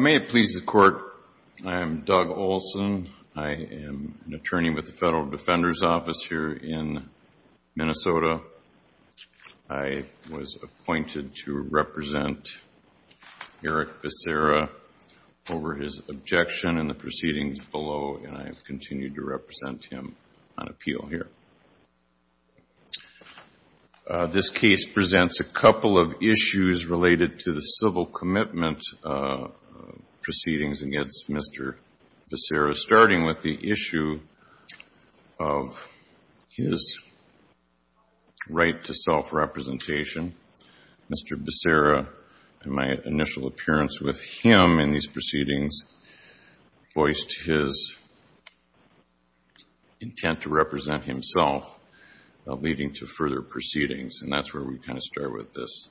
May it please the Court, I am Doug Olson. I am an attorney with the Federal Defender's Office here in Minnesota. I was appointed to represent Erik Becerra over his objection in the proceedings below, and I have continued to represent him on appeal here. This case presents a couple of issues related to the civil commitment proceedings against Mr. Becerra, starting with the issue of his right to self-representation. Mr. Becerra, in my initial appearance with him in these proceedings, voiced his intent to represent himself, leading to further proceedings, and that's where we kind of start with this.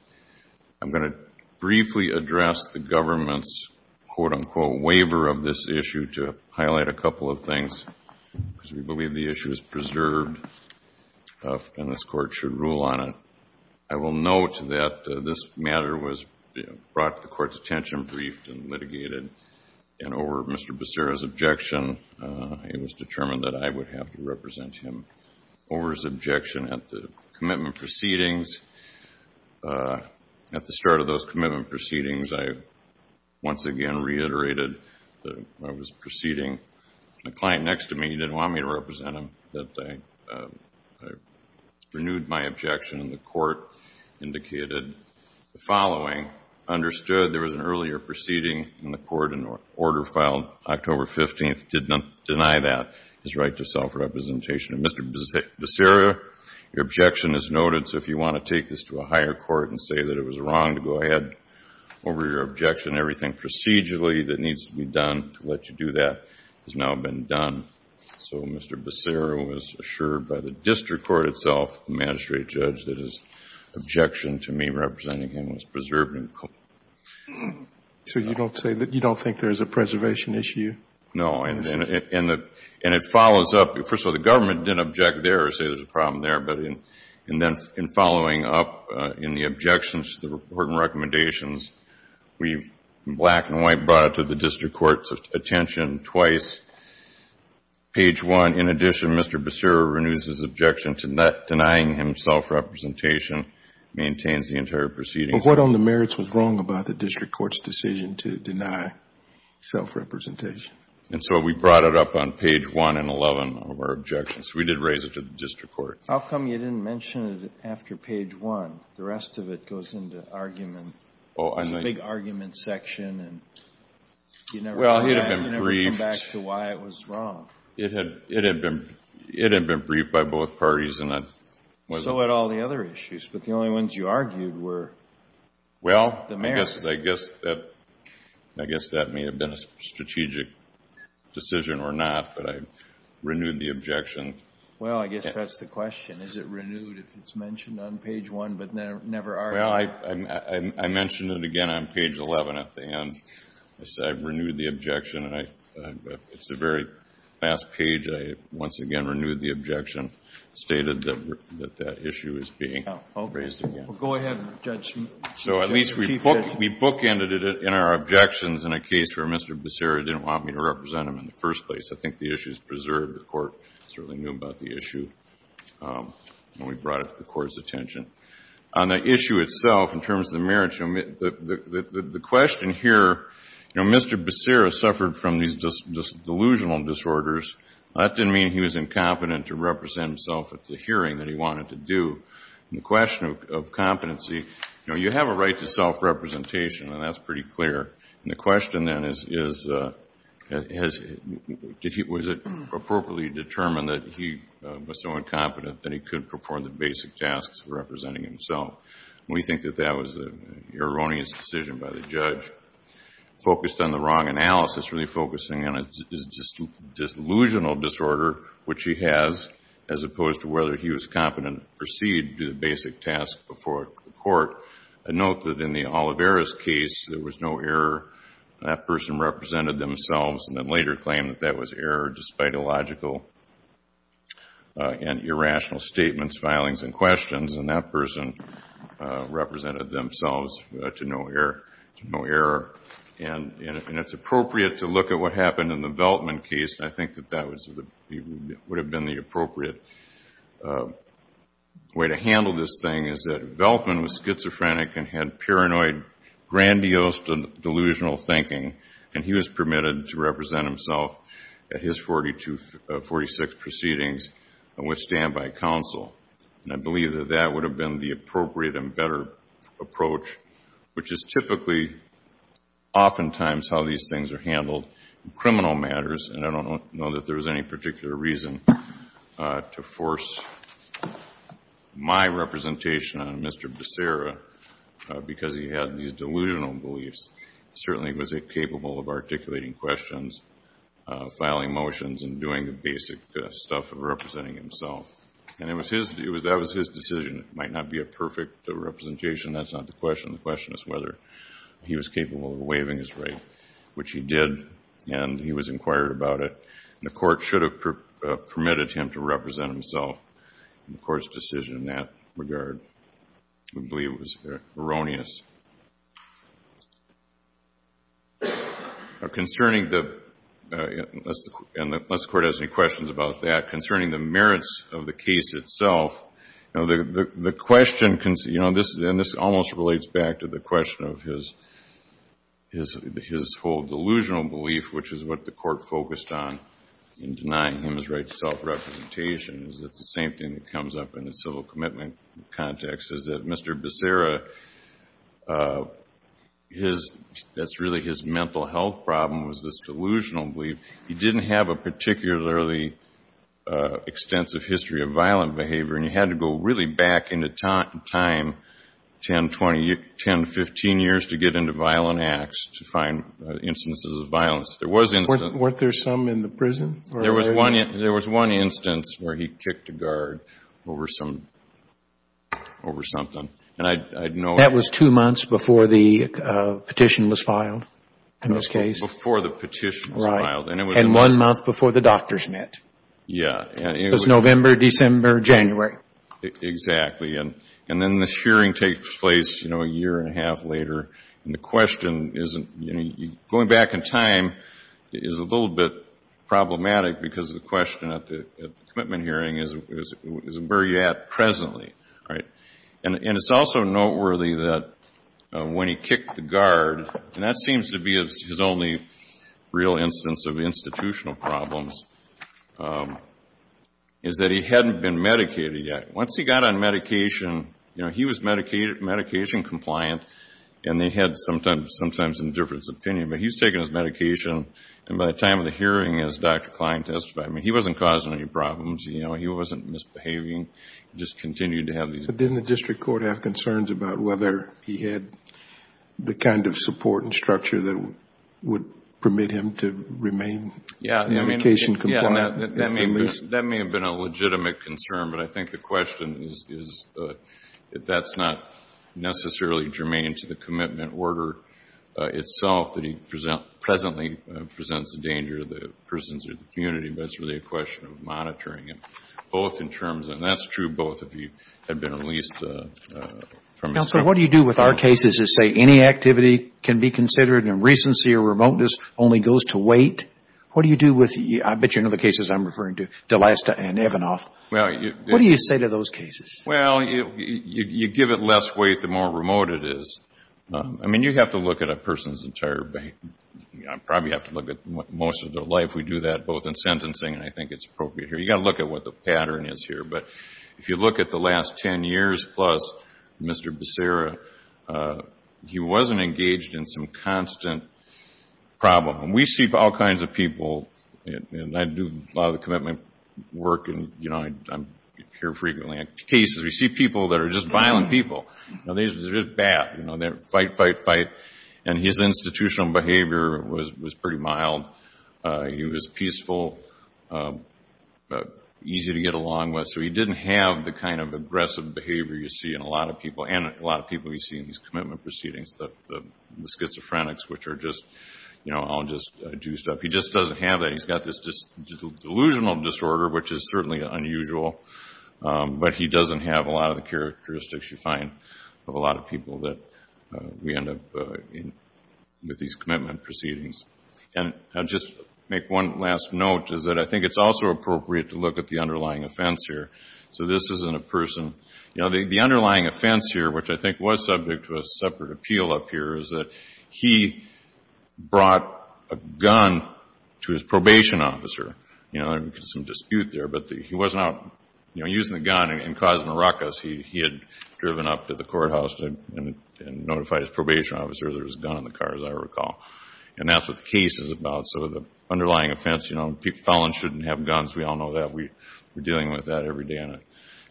I'm going to briefly address the government's, quote-unquote, waiver of this issue to highlight a couple of things, because we believe the issue is preserved and this Court should rule on it. I will note that this matter was brought to the Court's attention, briefed, and litigated, and over Mr. Becerra's objection, it was determined that I would have to represent him over his objection at the commitment proceedings. At the start of those commitment proceedings, I once again reiterated that when I was proceeding, the client next to me didn't want me to represent him, that I renewed my objection, and the Court indicated the following, understood there was an earlier proceeding in the Court and order filed October 15th, did not deny that, his right to self-representation. Mr. Becerra, your objection is noted, so if you want to take this to a higher court and say that it was wrong to go ahead over your objection, everything procedurally that needs to be done to let you do that has now been done. So Mr. Becerra was assured by the district court itself, the magistrate judge, that his objection to me representing him was preserved and cool. So you don't say that you don't think there's a preservation issue? No, and it follows up. First of all, the government didn't object there or say there's a problem there, but in following up in the objections to the report and recommendations, we black and white brought it to the district court's attention twice, page 1. In addition, Mr. Becerra renews his objection to not denying him self-representation, maintains the entire proceeding. But what on the merits was wrong about the district court's decision to deny self-representation? And so we brought it up on page 1 and 11 of our objections. We did raise it to the district court. How come you didn't mention it after page 1? The rest of it goes into argument, the big argument section, and you never come back to why it was wrong. It had been briefed by both parties, and that wasn't... So had all the other issues, but the only ones you argued were the merits. Well, I guess that may have been a strategic decision or not, but I renewed the objection. Well, I guess that's the question. Is it renewed if it's mentioned on page 1, but never argued? Well, I mentioned it again on page 11 at the end. I said I renewed the objection, and it's a very fast page. I once again renewed the objection, stated that that issue is being raised again. Well, go ahead, Judge. So at least we bookended it in our objections in a case where Mr. Becerra didn't want me to represent him in the first place. I think the issue is preserved. The court certainly knew about the issue when we brought it to the court's attention. On the issue itself, in terms of the merits, the question here, you know, Mr. Becerra suffered from these delusional disorders. That didn't mean he was incompetent to represent himself at the hearing that he wanted to do. And the question of competency, you know, you have a right to self-representation, and that's pretty clear. And the question then is, was it appropriately determined that he was so incompetent that he couldn't perform the basic tasks of representing himself? We think that that was an erroneous decision by the judge. Focused on the wrong analysis, really focusing on his delusional disorder, which he has, as opposed to whether he was competent to proceed to the basic task before the court. I note that in the Olivera's case, there was no error. That person represented themselves and then later claimed that that was error, despite illogical and irrational statements, filings, and questions. And that person represented themselves to no error. And it's appropriate to look at what happened in the Veltman case. I think that that would have been the appropriate way to handle this thing, is that Veltman was schizophrenic and had paranoid, grandiose delusional thinking, and he was permitted to represent himself at his 46 proceedings with standby counsel. And I believe that that would have been the appropriate and better approach, which is typically, oftentimes, how these things are handled in criminal matters. And I don't know that there was any particular reason to force my representation on Mr. Becerra, because he had these delusional beliefs. He certainly was capable of articulating questions, filing motions, and doing the basic stuff of representing himself. And it was his, it was, that was his decision. It might not be a perfect representation. That's not the question. The question is whether he was capable of waiving his right, which he did, and he was inquired about it. The court should have permitted him to represent himself. And the court's decision in that regard, we believe, was erroneous. Concerning the, unless the court has any questions about that, concerning the merits of the case itself, the question, and this almost relates back to the question of his whole delusional belief, which is what the court focused on in denying him his right to self-representation, is that it's the same thing that comes up in the civil commitment context, is that Mr. Becerra, his, that's really his mental health problem was this delusional belief. He didn't have a particularly extensive history of violent behavior, and he had to go really back in the time, 10, 20, 10 to 15 years to get into violent acts to find instances of violent violence. There was instances. Weren't there some in the prison? There was one instance where he kicked a guard over some, over something. And I know... That was two months before the petition was filed in this case? Before the petition was filed, and it was... Right. And one month before the doctors met. Yeah. It was November, December, January. Exactly. And then this hearing takes place, you know, a year and a half later, and the time is a little bit problematic because the question at the commitment hearing is where are you at presently, right? And it's also noteworthy that when he kicked the guard, and that seems to be his only real instance of institutional problems, is that he hadn't been medicated yet. Once he got on medication, you know, he was medication compliant, and he had sometimes indifference opinion. But he's taken his medication, and by the time of the hearing, as Dr. Klein testified, I mean, he wasn't causing any problems, you know, he wasn't misbehaving. He just continued to have these... But didn't the district court have concerns about whether he had the kind of support and structure that would permit him to remain medication compliant? Yeah. That may have been a legitimate concern, but I think the question is that that's not a legitimate order itself that he presently presents a danger to the persons or the community, but it's really a question of monitoring him, both in terms of... And that's true, both of you had been released from... Counselor, what do you do with our cases that say any activity can be considered in recency or remoteness only goes to wait? What do you do with... I bet you know the cases I'm referring to, D'Alesta and Evanoff. What do you say to those cases? Well, you give it less weight the more remote it is. I mean, you have to look at a person's entire... You probably have to look at most of their life. We do that both in sentencing and I think it's appropriate here. You got to look at what the pattern is here, but if you look at the last 10 years plus, Mr. Becerra, he wasn't engaged in some constant problem. We see all kinds of people, and I do a lot of the commitment work, and I'm here frequently at cases where you see people that are just violent people. They're just bad. They fight, fight, fight, and his institutional behavior was pretty mild. He was peaceful, easy to get along with, so he didn't have the kind of aggressive behavior you see in a lot of people, and a lot of people you see in these commitment proceedings, the schizophrenics, which are just all just juiced up. He just doesn't have that. He's got this delusional disorder, which is certainly unusual, but he doesn't have a lot of the characteristics you find of a lot of people that we end up with these commitment proceedings. Just make one last note, is that I think it's also appropriate to look at the underlying offense here. So this isn't a person... The underlying offense here, which I think was subject to a separate appeal up here, is that he brought a gun to his probation officer. There was some dispute there, but he wasn't out using the gun and causing a ruckus. He had driven up to the courthouse and notified his probation officer there was a gun in the car, as I recall, and that's what the case is about. So the underlying offense, you know, people falling shouldn't have guns. We all know that. We're dealing with that every day on a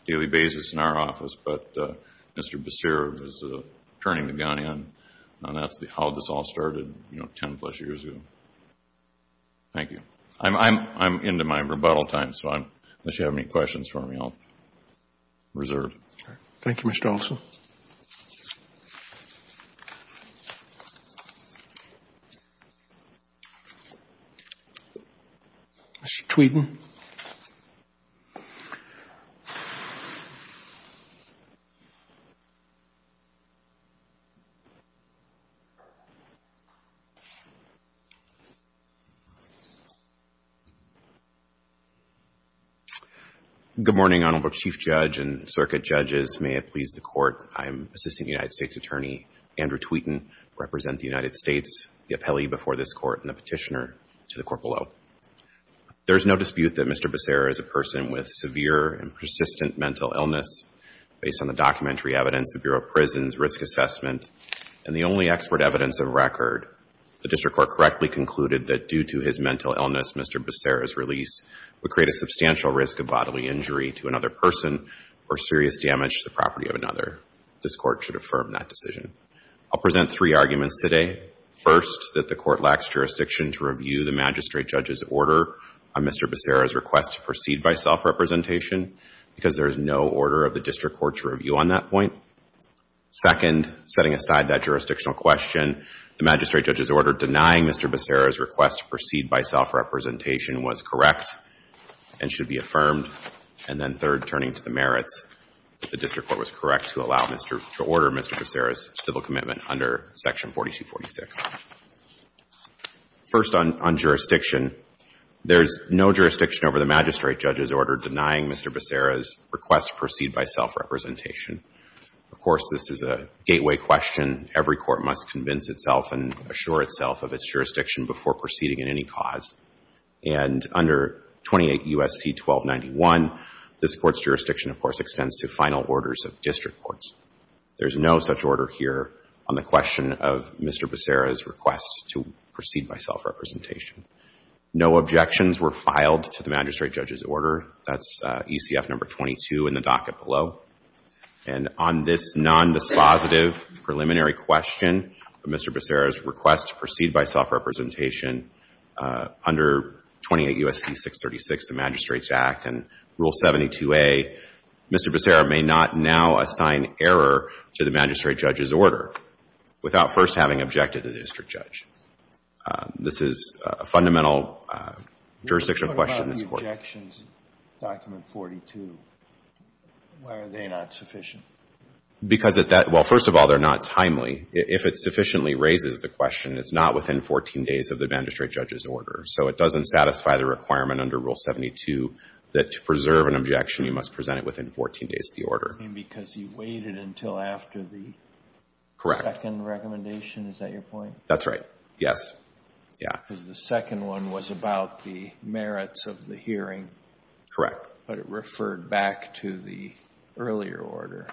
daily basis in our office, but Mr. Basir is turning the gun in, and that's how this all started, you know, 10-plus years ago. Thank you. I'm into my rebuttal time, so unless you have any questions for me, I'll reserve. Thank you, Mr. Olson. Mr. Tweeden. Good morning, Honorable Chief Judge and Circuit Judges. May it please the Court, I'm Assistant United States Attorney Andrew Tweeden, represent the United States, the appellee before this Court, and the petitioner to the Court below. There's no dispute that Mr. Basir is a person with severe and persistent mental illness. Based on the documentary evidence, the Bureau of Prisons Risk Assessment, and the only expert evidence of record, the District Court correctly concluded that due to his mental illness, Mr. Basir's release would create a substantial risk of bodily injury to another person or serious damage to the property of another. This Court should affirm that decision. I'll present three arguments today. First, that the Court lacks jurisdiction to review the magistrate judge's order on Mr. Basir's request to proceed by self-representation, because there is no order of the District Court to review on that point. Second, setting aside that jurisdictional question, the magistrate judge's order denying Mr. Basir's request to proceed by self-representation was correct and should be affirmed. And then third, turning to the merits, that the District Court was correct to order Mr. Basir's civil commitment under Section 4246. First, on jurisdiction, there's no jurisdiction over the magistrate judge's order denying Mr. Basir's request to proceed by self-representation. Of course, this is a gateway question. Every court must convince itself and assure itself of its jurisdiction before proceeding in any cause. And under 28 U.S.C. 1291, this Court's jurisdiction, of course, extends to final orders of District Courts. There's no such order here on the magistrate judge's order denying Mr. Basir's request to proceed by self-representation. No objections were filed to the magistrate judge's order. That's ECF number 22 in the docket below. And on this nondispositive preliminary question of Mr. Basir's request to proceed by self-representation, under 28 U.S.C. 636, the Magistrate's Act and Rule 72A, Mr. Basir may not now assign error to the magistrate judge's order without first having objected to the district judge. This is a fundamental jurisdiction question in this Court. What about the objections in Document 42? Why are they not sufficient? Because at that — well, first of all, they're not timely. If it sufficiently raises the question, it's not within 14 days of the magistrate judge's order. So it doesn't satisfy the requirement under Rule 72 that to preserve an objection, you must present it within 14 days of the order. Because he waited until after the second recommendation? Is that your point? That's right. Yes. Yeah. Because the second one was about the merits of the hearing. Correct. But it referred back to the earlier order.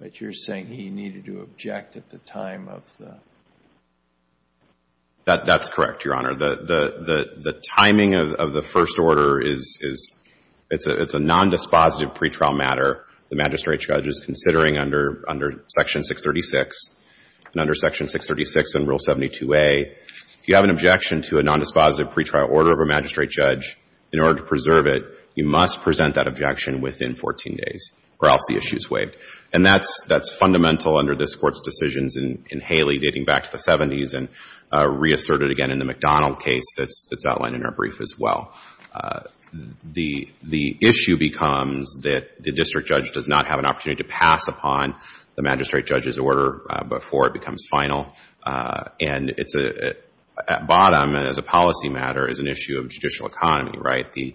But you're saying he needed to object at the time of the — That's correct, Your Honor. The timing of the first order is — it's a nondispositive pre-trial matter. The magistrate judge is considering under Section 636. And under Section 636 in Rule 72a, if you have an objection to a nondispositive pre-trial order of a magistrate judge, in order to preserve it, you must present that objection within 14 days or else the issue is waived. And that's fundamental under this Court's decisions in Haley dating back to the 70s and reasserted again in the McDonald case that's outlined in our brief as well. The issue becomes that the district judge does not have an opportunity to pass upon the magistrate judge's order before it becomes final. And at bottom, as a policy matter, is an issue of judicial economy, right? The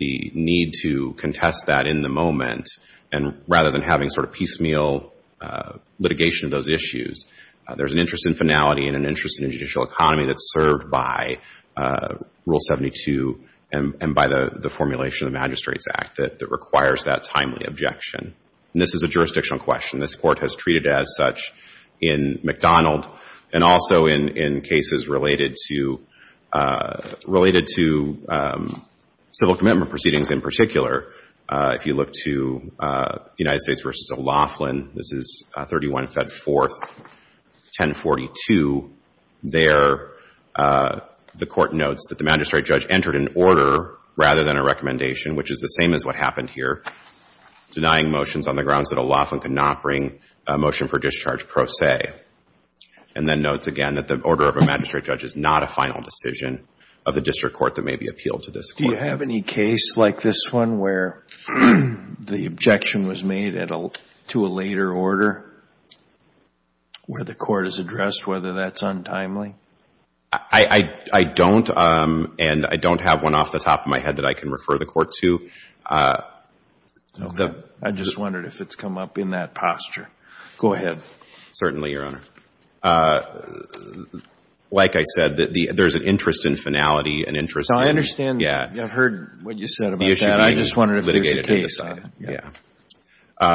need to contest that in the moment. And rather than having sort of piecemeal litigation of those issues, there's an interest in finality and an interest in a judicial economy that's served by Rule 72 and by the formulation of the Magistrates Act that requires that timely objection. And this is a jurisdictional question. This Court has treated it as such in McDonald and also in cases related to — related to civil commitment proceedings in particular. If you look to United States v. O'Loughlin, this is 31 Fed 4th, 1042, there the Court notes that the magistrate judge entered an order rather than a recommendation, which is the same as what happened here, denying motions on the grounds that O'Loughlin could not bring a motion for discharge pro se. And then notes again that the order of a magistrate judge is not a final decision of the district court that may be appealed to this Court. Do you have any case like this one where the objection was made at a — to a later order where the Court has addressed whether that's untimely? I don't. And I don't have one off the top of my head that I can refer the Court to. Okay. I just wondered if it's come up in that posture. Go ahead. Certainly, Your Honor. Like I said, there's an interest in finality and interest in — So I understand. Yeah. I've heard what you said about that. I just wondered if there's a case. Yeah.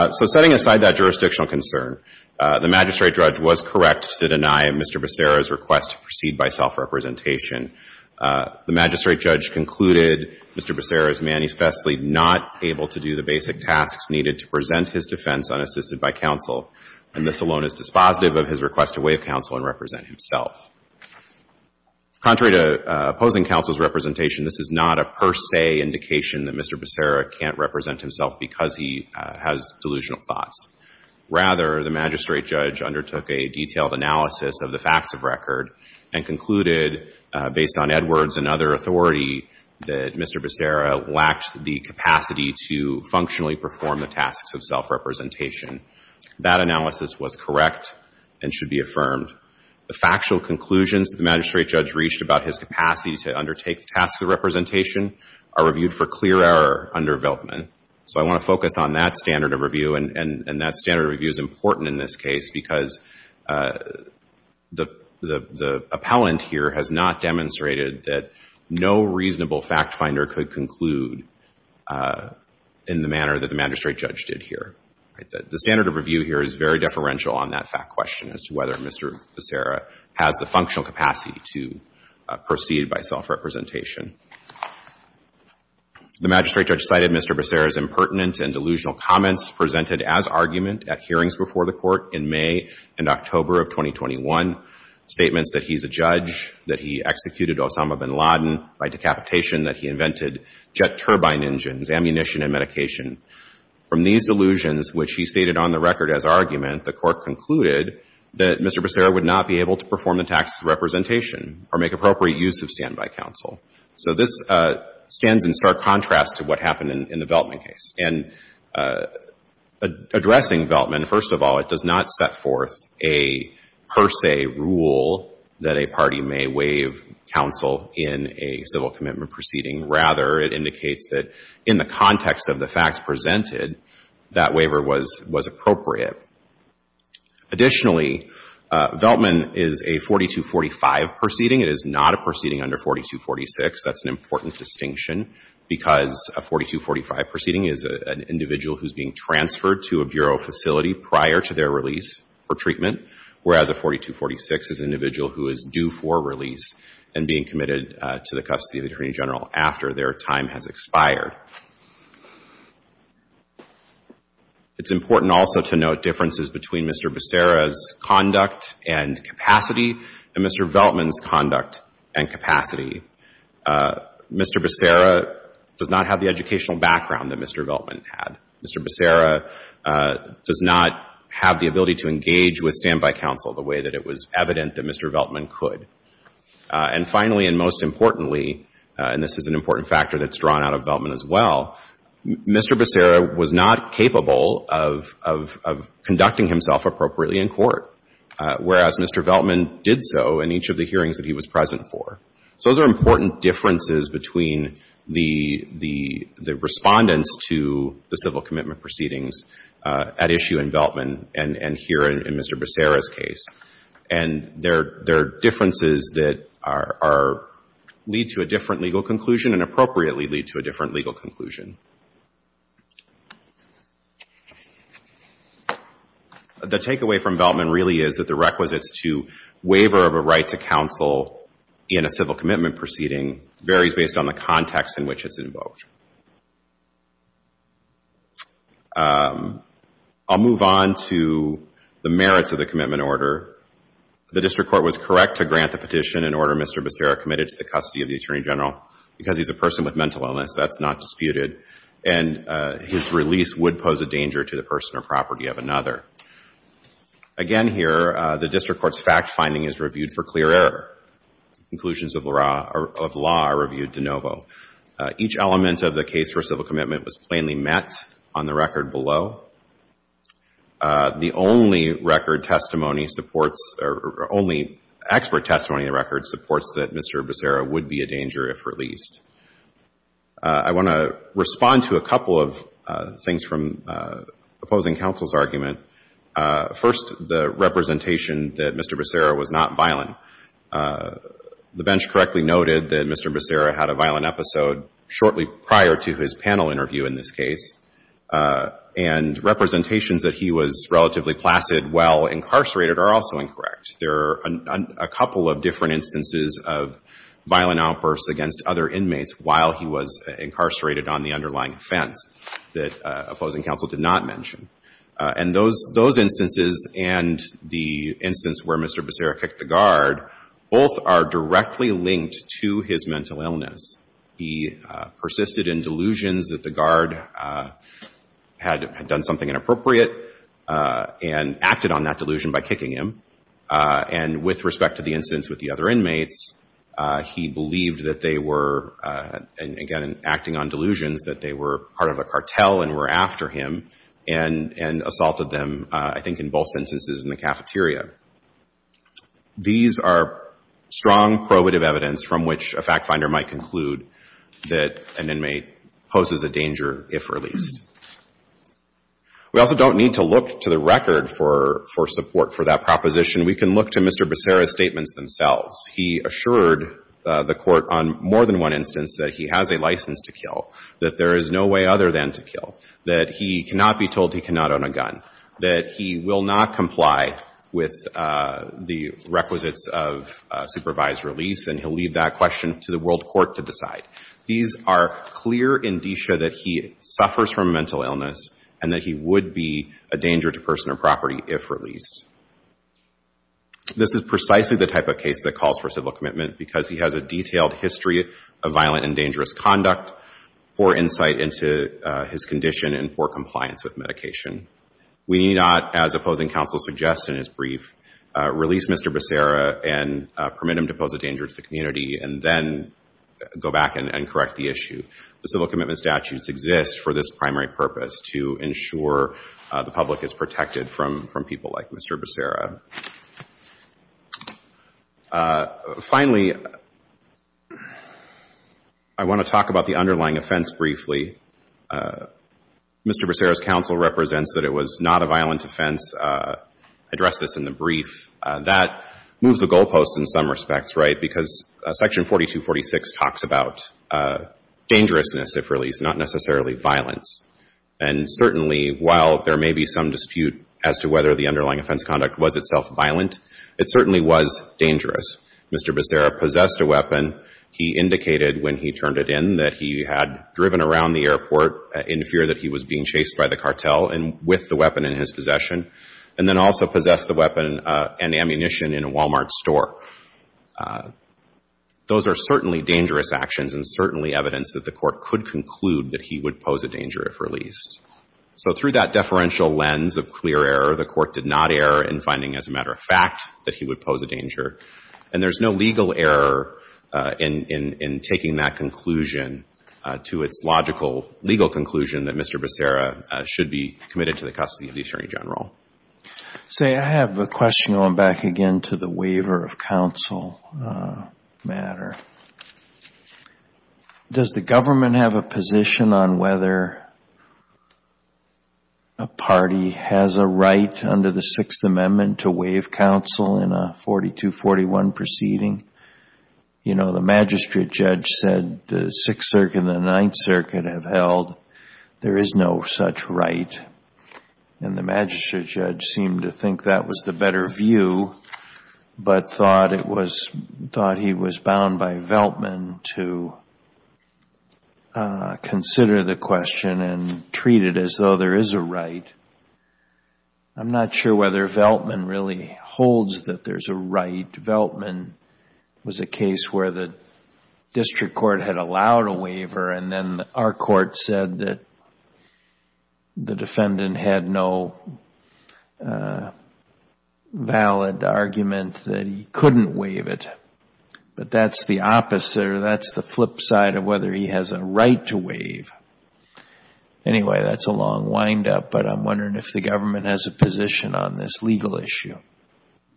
So setting aside that jurisdictional concern, the magistrate judge was correct to deny Mr. Becerra's request to proceed by self-representation. The magistrate judge concluded Mr. Becerra is manifestly not able to do the basic tasks needed to present his defense unassisted by counsel, and this alone is dispositive of his request to waive counsel and represent himself. Contrary to opposing counsel's representation, this is not a per se indication that Mr. Becerra can't represent himself because he has delusional thoughts. Rather, the magistrate judge undertook a detailed analysis of the facts of record and concluded, based on Edwards and other authority, that Mr. Becerra lacked the capacity to functionally perform the tasks of self-representation. That analysis was correct and should be affirmed. The factual conclusions the magistrate judge reached about his capacity to undertake the tasks of representation are reviewed for clear error under Viltman. So I want to focus on that standard of review, and that standard of review is important in this case because the appellant here has not demonstrated that no reasonable fact finder could conclude in the manner that the magistrate judge did here. The standard of review here is very deferential on that fact question as to whether Mr. Becerra has the functional capacity to proceed by self-representation. The magistrate judge cited Mr. Becerra's impertinent and delusional comments presented as argument at hearings before the Court in May and October of 2021, statements that he's a judge, that he executed Osama bin Laden by decapitation, that he invented jet turbine engines, ammunition, and medication. From these delusions, which he stated on the record as argument, the Court concluded that Mr. Becerra would not be able to perform the tasks of representation or make appropriate use of standby counsel. So this stands in stark contrast to what happened in the Viltman case. And addressing Viltman, first of all, it does not set forth a per se rule that a party may waive counsel in a civil commitment proceeding. Rather, it indicates that in the context of the facts presented, that waiver was appropriate. Additionally, Viltman is a 4245 proceeding. It is not a proceeding under 4246. That's an important distinction because a 4245 proceeding is an individual who's being transferred to a bureau facility prior to their release for treatment, whereas a 4246 is an individual who is due for release and being committed to the custody of the Attorney General after their time has expired. It's important also to note differences between Mr. Becerra's conduct and capacity and Mr. Viltman's conduct and capacity. Mr. Becerra does not have the educational background that Mr. Viltman had. Mr. Becerra does not have the ability to engage with standby counsel the way that it was evident that Mr. Viltman could. And finally and most importantly, and this is an important factor that's drawn out of Viltman as well, Mr. Becerra was not capable of conducting himself appropriately in court, whereas Mr. Viltman did so in each of the hearings that he was present for. So those are important differences between the respondents to the civil commitment proceedings at issue in Viltman and here in Mr. Becerra's case. And there are differences that lead to a different legal conclusion and appropriately lead to a different legal conclusion. The takeaway from Viltman really is that the requisites to waiver of a right to counsel in a civil commitment proceeding varies based on the context in which it's invoked. I'll move on to the merits of the commitment order. The district court was correct to grant the petition and order Mr. Becerra committed to the custody of the Attorney General. Because he's a person with mental illness, that's not disputed. And his release would pose a danger to the person or property of another. Again here, the district court's fact finding is reviewed for clear error. Conclusions of law are reviewed de novo. Each element of the case for civil commitment was plainly met on the record below. The only record testimony supports or only expert testimony in the record supports that Mr. Becerra would be a danger if released. I want to respond to a couple of things from opposing counsel's argument. First, the representation that Mr. Becerra was not violent. The bench correctly noted that Mr. Becerra had a violent episode shortly prior to his panel interview in this case. And representations that he was relatively placid while incarcerated are also incorrect. There are a couple of different instances of violent outbursts against other inmates while he was incarcerated on the underlying offense that opposing counsel did not mention. And those instances and the instance where Mr. Becerra kicked the guard, both are directly linked to his mental illness. He persisted in delusions that the guard had done something inappropriate and acted on that delusion by kicking him. And with respect to the instance with the other inmates, he believed that they were, again, acting on delusions, that they were part of a cartel and were after him. And assaulted them, I think, in both instances in the cafeteria. These are strong probative evidence from which a fact finder might conclude that an inmate poses a danger if released. We also don't need to look to the record for support for that proposition. We can look to Mr. Becerra's statements themselves. He assured the Court on more than one instance that he has a license to kill, that there is no way other than to kill, that he cannot be told he cannot own a gun, that he will not comply with the requisites of supervised release, and he'll leave that question to the world court to decide. These are clear indicia that he suffers from a mental illness and that he would be a danger to personal property if released. This is precisely the type of case that calls for civil commitment because he has a detailed history of violent and dangerous conduct, poor insight into his condition, and poor compliance with medication. We need not, as opposing counsel suggests in his brief, release Mr. Becerra and permit him to pose a danger to the community and then go back and correct the issue. The civil commitment statutes exist for this primary purpose, to ensure the public is protected from people like Mr. Becerra. Finally, I want to talk about the underlying offense briefly. Mr. Becerra's counsel represents that it was not a violent offense. I addressed this in the brief. That moves the goalposts in some respects, right, because Section 4246 talks about dangerousness, if released, not necessarily violence. And certainly, while there may be some dispute as to whether the underlying offense conduct was itself violent, it certainly was dangerous. Mr. Becerra possessed a weapon. He indicated when he turned it in that he had driven around the airport in fear that he was being chased by the cartel and with the weapon in his possession and then also possessed the weapon and ammunition in a Wal-Mart store. Those are certainly dangerous actions and certainly evidence that the Court could conclude that he would pose a danger if released. So through that deferential lens of clear error, the Court did not err in finding, as a matter of fact, that he would pose a danger. And there's no legal error in taking that conclusion to its logical legal conclusion that Mr. Becerra should be committed to the custody of the Attorney General. Say, I have a question going back again to the waiver of counsel matter. Does the government have a position on whether a party has a right under the Sixth Amendment to waive counsel in a 42-41 proceeding? You know, the magistrate judge said the Sixth Circuit and the Ninth Circuit have held there is no such right. And the magistrate judge seemed to think that was the better view but thought he was bound by Veltman to consider the question and treat it as though there is a right. I'm not sure whether Veltman really holds that there's a right. Veltman was a case where the district court had allowed a waiver and then our court said that the defendant had no valid argument that he couldn't waive it. But that's the opposite or that's the flip side of whether he has a right to waive. Anyway, that's a long windup, but I'm wondering if the government has a position on this legal issue.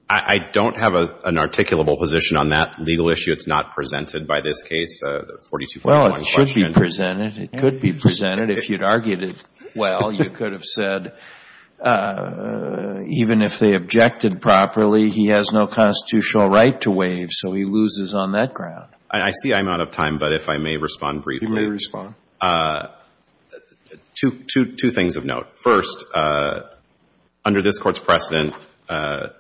I don't have an articulable position on that legal issue. It's not presented by this case, the 42-41 question. Well, it should be presented. It could be presented. If you'd argued it well, you could have said even if they objected properly, he has no constitutional right to waive, so he loses on that ground. I see I'm out of time, but if I may respond briefly. You may respond. Two things of note. First, under this Court's precedent, the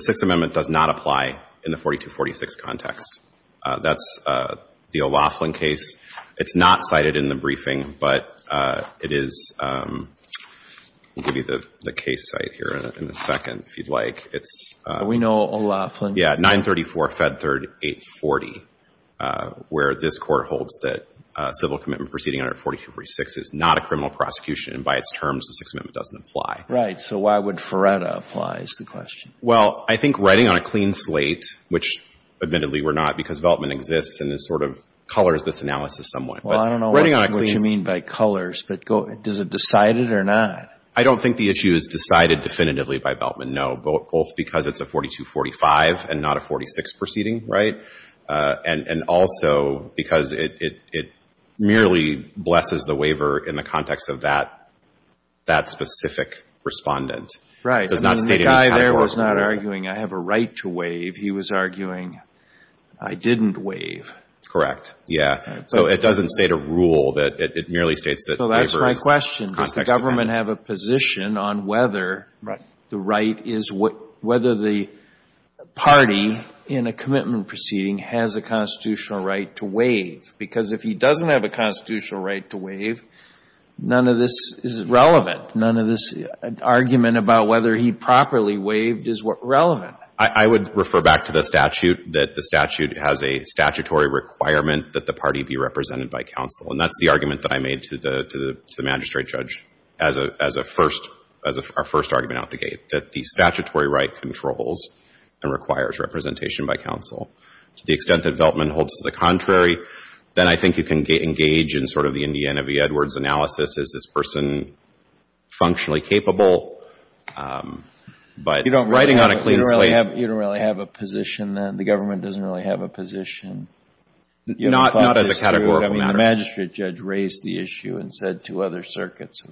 Sixth Amendment does not apply in the 42-46 context. That's the O'Loughlin case. It's not cited in the briefing, but it is, I'll give you the case site here in a second if you'd like. We know O'Loughlin. Yeah, 934 Fed Third 840, where this Court holds that civil commitment proceeding under 42-46 is not a criminal prosecution and by its terms, the Sixth Amendment doesn't apply. So why would Feretta apply is the question. Well, I think writing on a clean slate, which admittedly we're not, because Veltman exists and sort of colors this analysis somewhat. Well, I don't know what you mean by colors, but does it decide it or not? I don't think the issue is decided definitively by Veltman, no, both because it's a 42-45 and not a 46 proceeding, right, and also because it merely blesses the waiver in the context of that specific respondent. Right. And the guy there was not arguing I have a right to waive. He was arguing I didn't waive. Correct. Yeah. So it doesn't state a rule. It merely states that the waiver is in the context of that. So that's my question. Does the government have a position on whether the right is, whether the party in a commitment proceeding has a constitutional right to waive? Because if he doesn't have a constitutional right to waive, none of this is relevant. None of this argument about whether he properly waived is relevant. I would refer back to the statute that the statute has a statutory requirement that the party be represented by counsel. And that's the argument that I made to the magistrate judge as our first argument out the gate, that the statutory right controls and requires representation by counsel. To the extent that Veltman holds to the contrary, then I think you can engage in sort of the Indiana v. Edwards analysis. Is this person functionally capable? But writing on a clean slate. You don't really have a position. The government doesn't really have a position. Not as a categorical matter. The magistrate judge raised the issue and said to other circuits,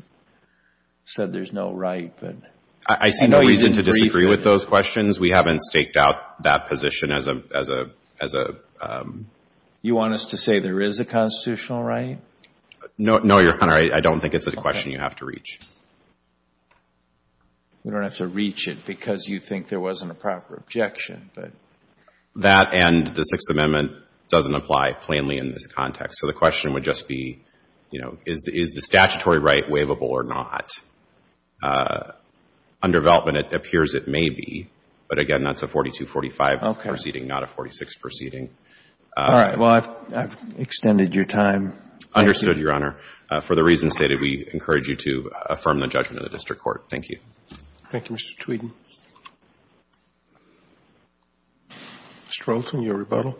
said there's no right. I see no reason to disagree with those questions. We haven't staked out that position as a... No, Your Honor. I don't think it's a question you have to reach. We don't have to reach it because you think there wasn't a proper objection. That and the Sixth Amendment doesn't apply plainly in this context. So the question would just be, you know, is the statutory right waivable or not? Under Veltman, it appears it may be. But, again, that's a 4245 proceeding, not a 46 proceeding. All right. Well, I've extended your time. Understood, Your Honor. For the reasons stated, we encourage you to affirm the judgment of the district court. Thank you. Thank you, Mr. Tweeden. Mr. Olson, your rebuttal.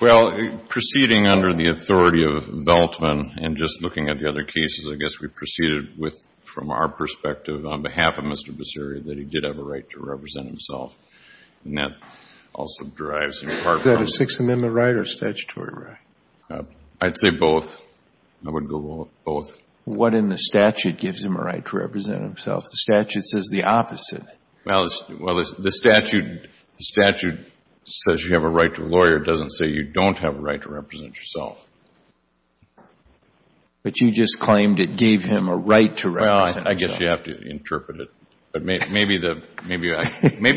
Well, proceeding under the authority of Veltman and just looking at the other cases, I guess we proceeded with, from our perspective, on behalf of Mr. Baseri, that he did have a right to represent himself, and that also derives in part from... Is that a Sixth Amendment right or a statutory right? I'd say both. I would go both. What in the statute gives him a right to represent himself? The statute says the opposite. Well, the statute says you have a right to a lawyer. It doesn't say you don't have a right to represent yourself. But you just claimed it gave him a right to represent himself. Well, I guess you have to interpret it. But maybe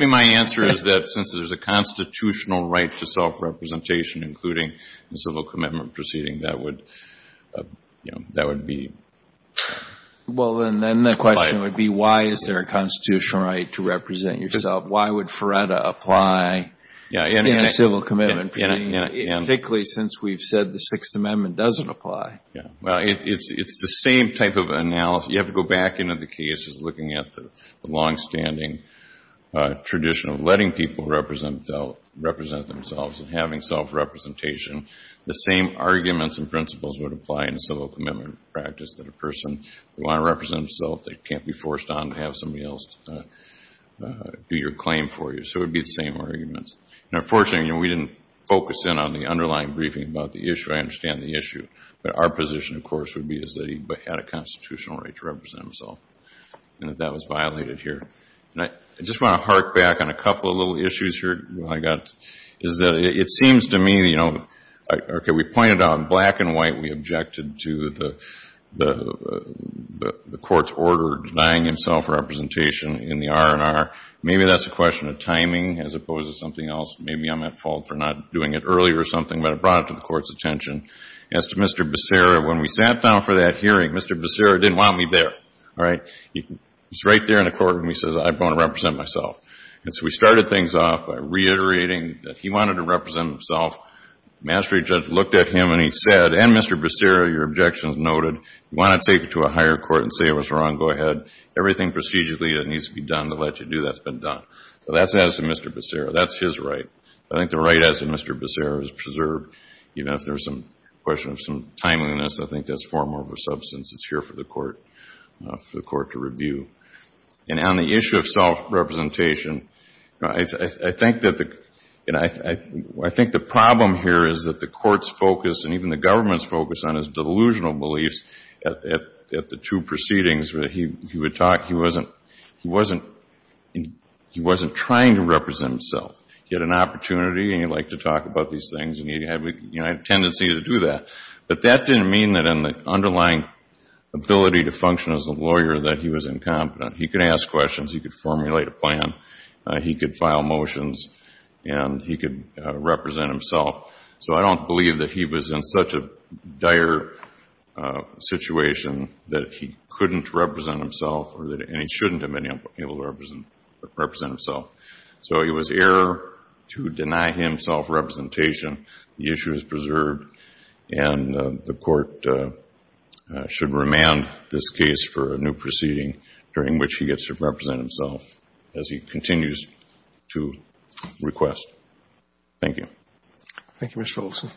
my answer is that since there's a constitutional right to self-representation, including the civil commitment proceeding, that would be... Well, then the question would be, why is there a constitutional right to represent yourself? Why would Feretta apply in a civil commitment proceeding, particularly since we've said the Sixth Amendment doesn't apply? Yeah. Well, it's the same type of analysis. You have to go back into the cases looking at the longstanding tradition of letting people represent themselves and having self-representation. The same arguments and principles would apply in a civil commitment practice, that a person would want to represent himself, they can't be forced on to have somebody else do your claim for you. So it would be the same arguments. Now, fortunately, we didn't focus in on the underlying briefing about the issue. I understand the issue. But our position, of course, would be is that he had a constitutional right to represent himself and that that was violated here. I just want to hark back on a couple of little issues here I got. It seems to me, you know, we pointed out black and white, we objected to the court's order denying himself representation in the R&R. Maybe that's a question of timing as opposed to something else. Maybe I'm at fault for not doing it earlier or something, but it brought it to the court's attention. As to Mr. Becerra, when we sat down for that hearing, Mr. Becerra didn't want me there. All right? He's right there in the courtroom and he says, I'm going to represent myself. And so we started things off by reiterating that he wanted to represent himself. Mastery judge looked at him and he said, and Mr. Becerra, your objection is noted. You want to take it to a higher court and say it was wrong, go ahead. Everything procedurally that needs to be done to let you do that's been done. So that's as to Mr. Becerra. That's his right. I think the right as to Mr. Becerra is preserved, even if there's a question of some timeliness. I think that's far more of a substance. It's here for the court to review. And on the issue of self-representation, I think the problem here is that the court's focus and even the government's focus on his delusional beliefs at the two proceedings, he wasn't trying to represent himself. He had an opportunity and he liked to talk about these things and he had a tendency to do that. But that didn't mean that in the underlying ability to function as a lawyer that he was incompetent. He could ask questions. He could formulate a plan. He could file motions. And he could represent himself. So I don't believe that he was in such a dire situation that he couldn't represent himself and he shouldn't have been able to represent himself. So it was error to deny him self-representation. The issue is preserved and the court should remand this case for a new proceeding during which he gets to represent himself as he continues to request. Thank you. Thank you, Mr. Wilson.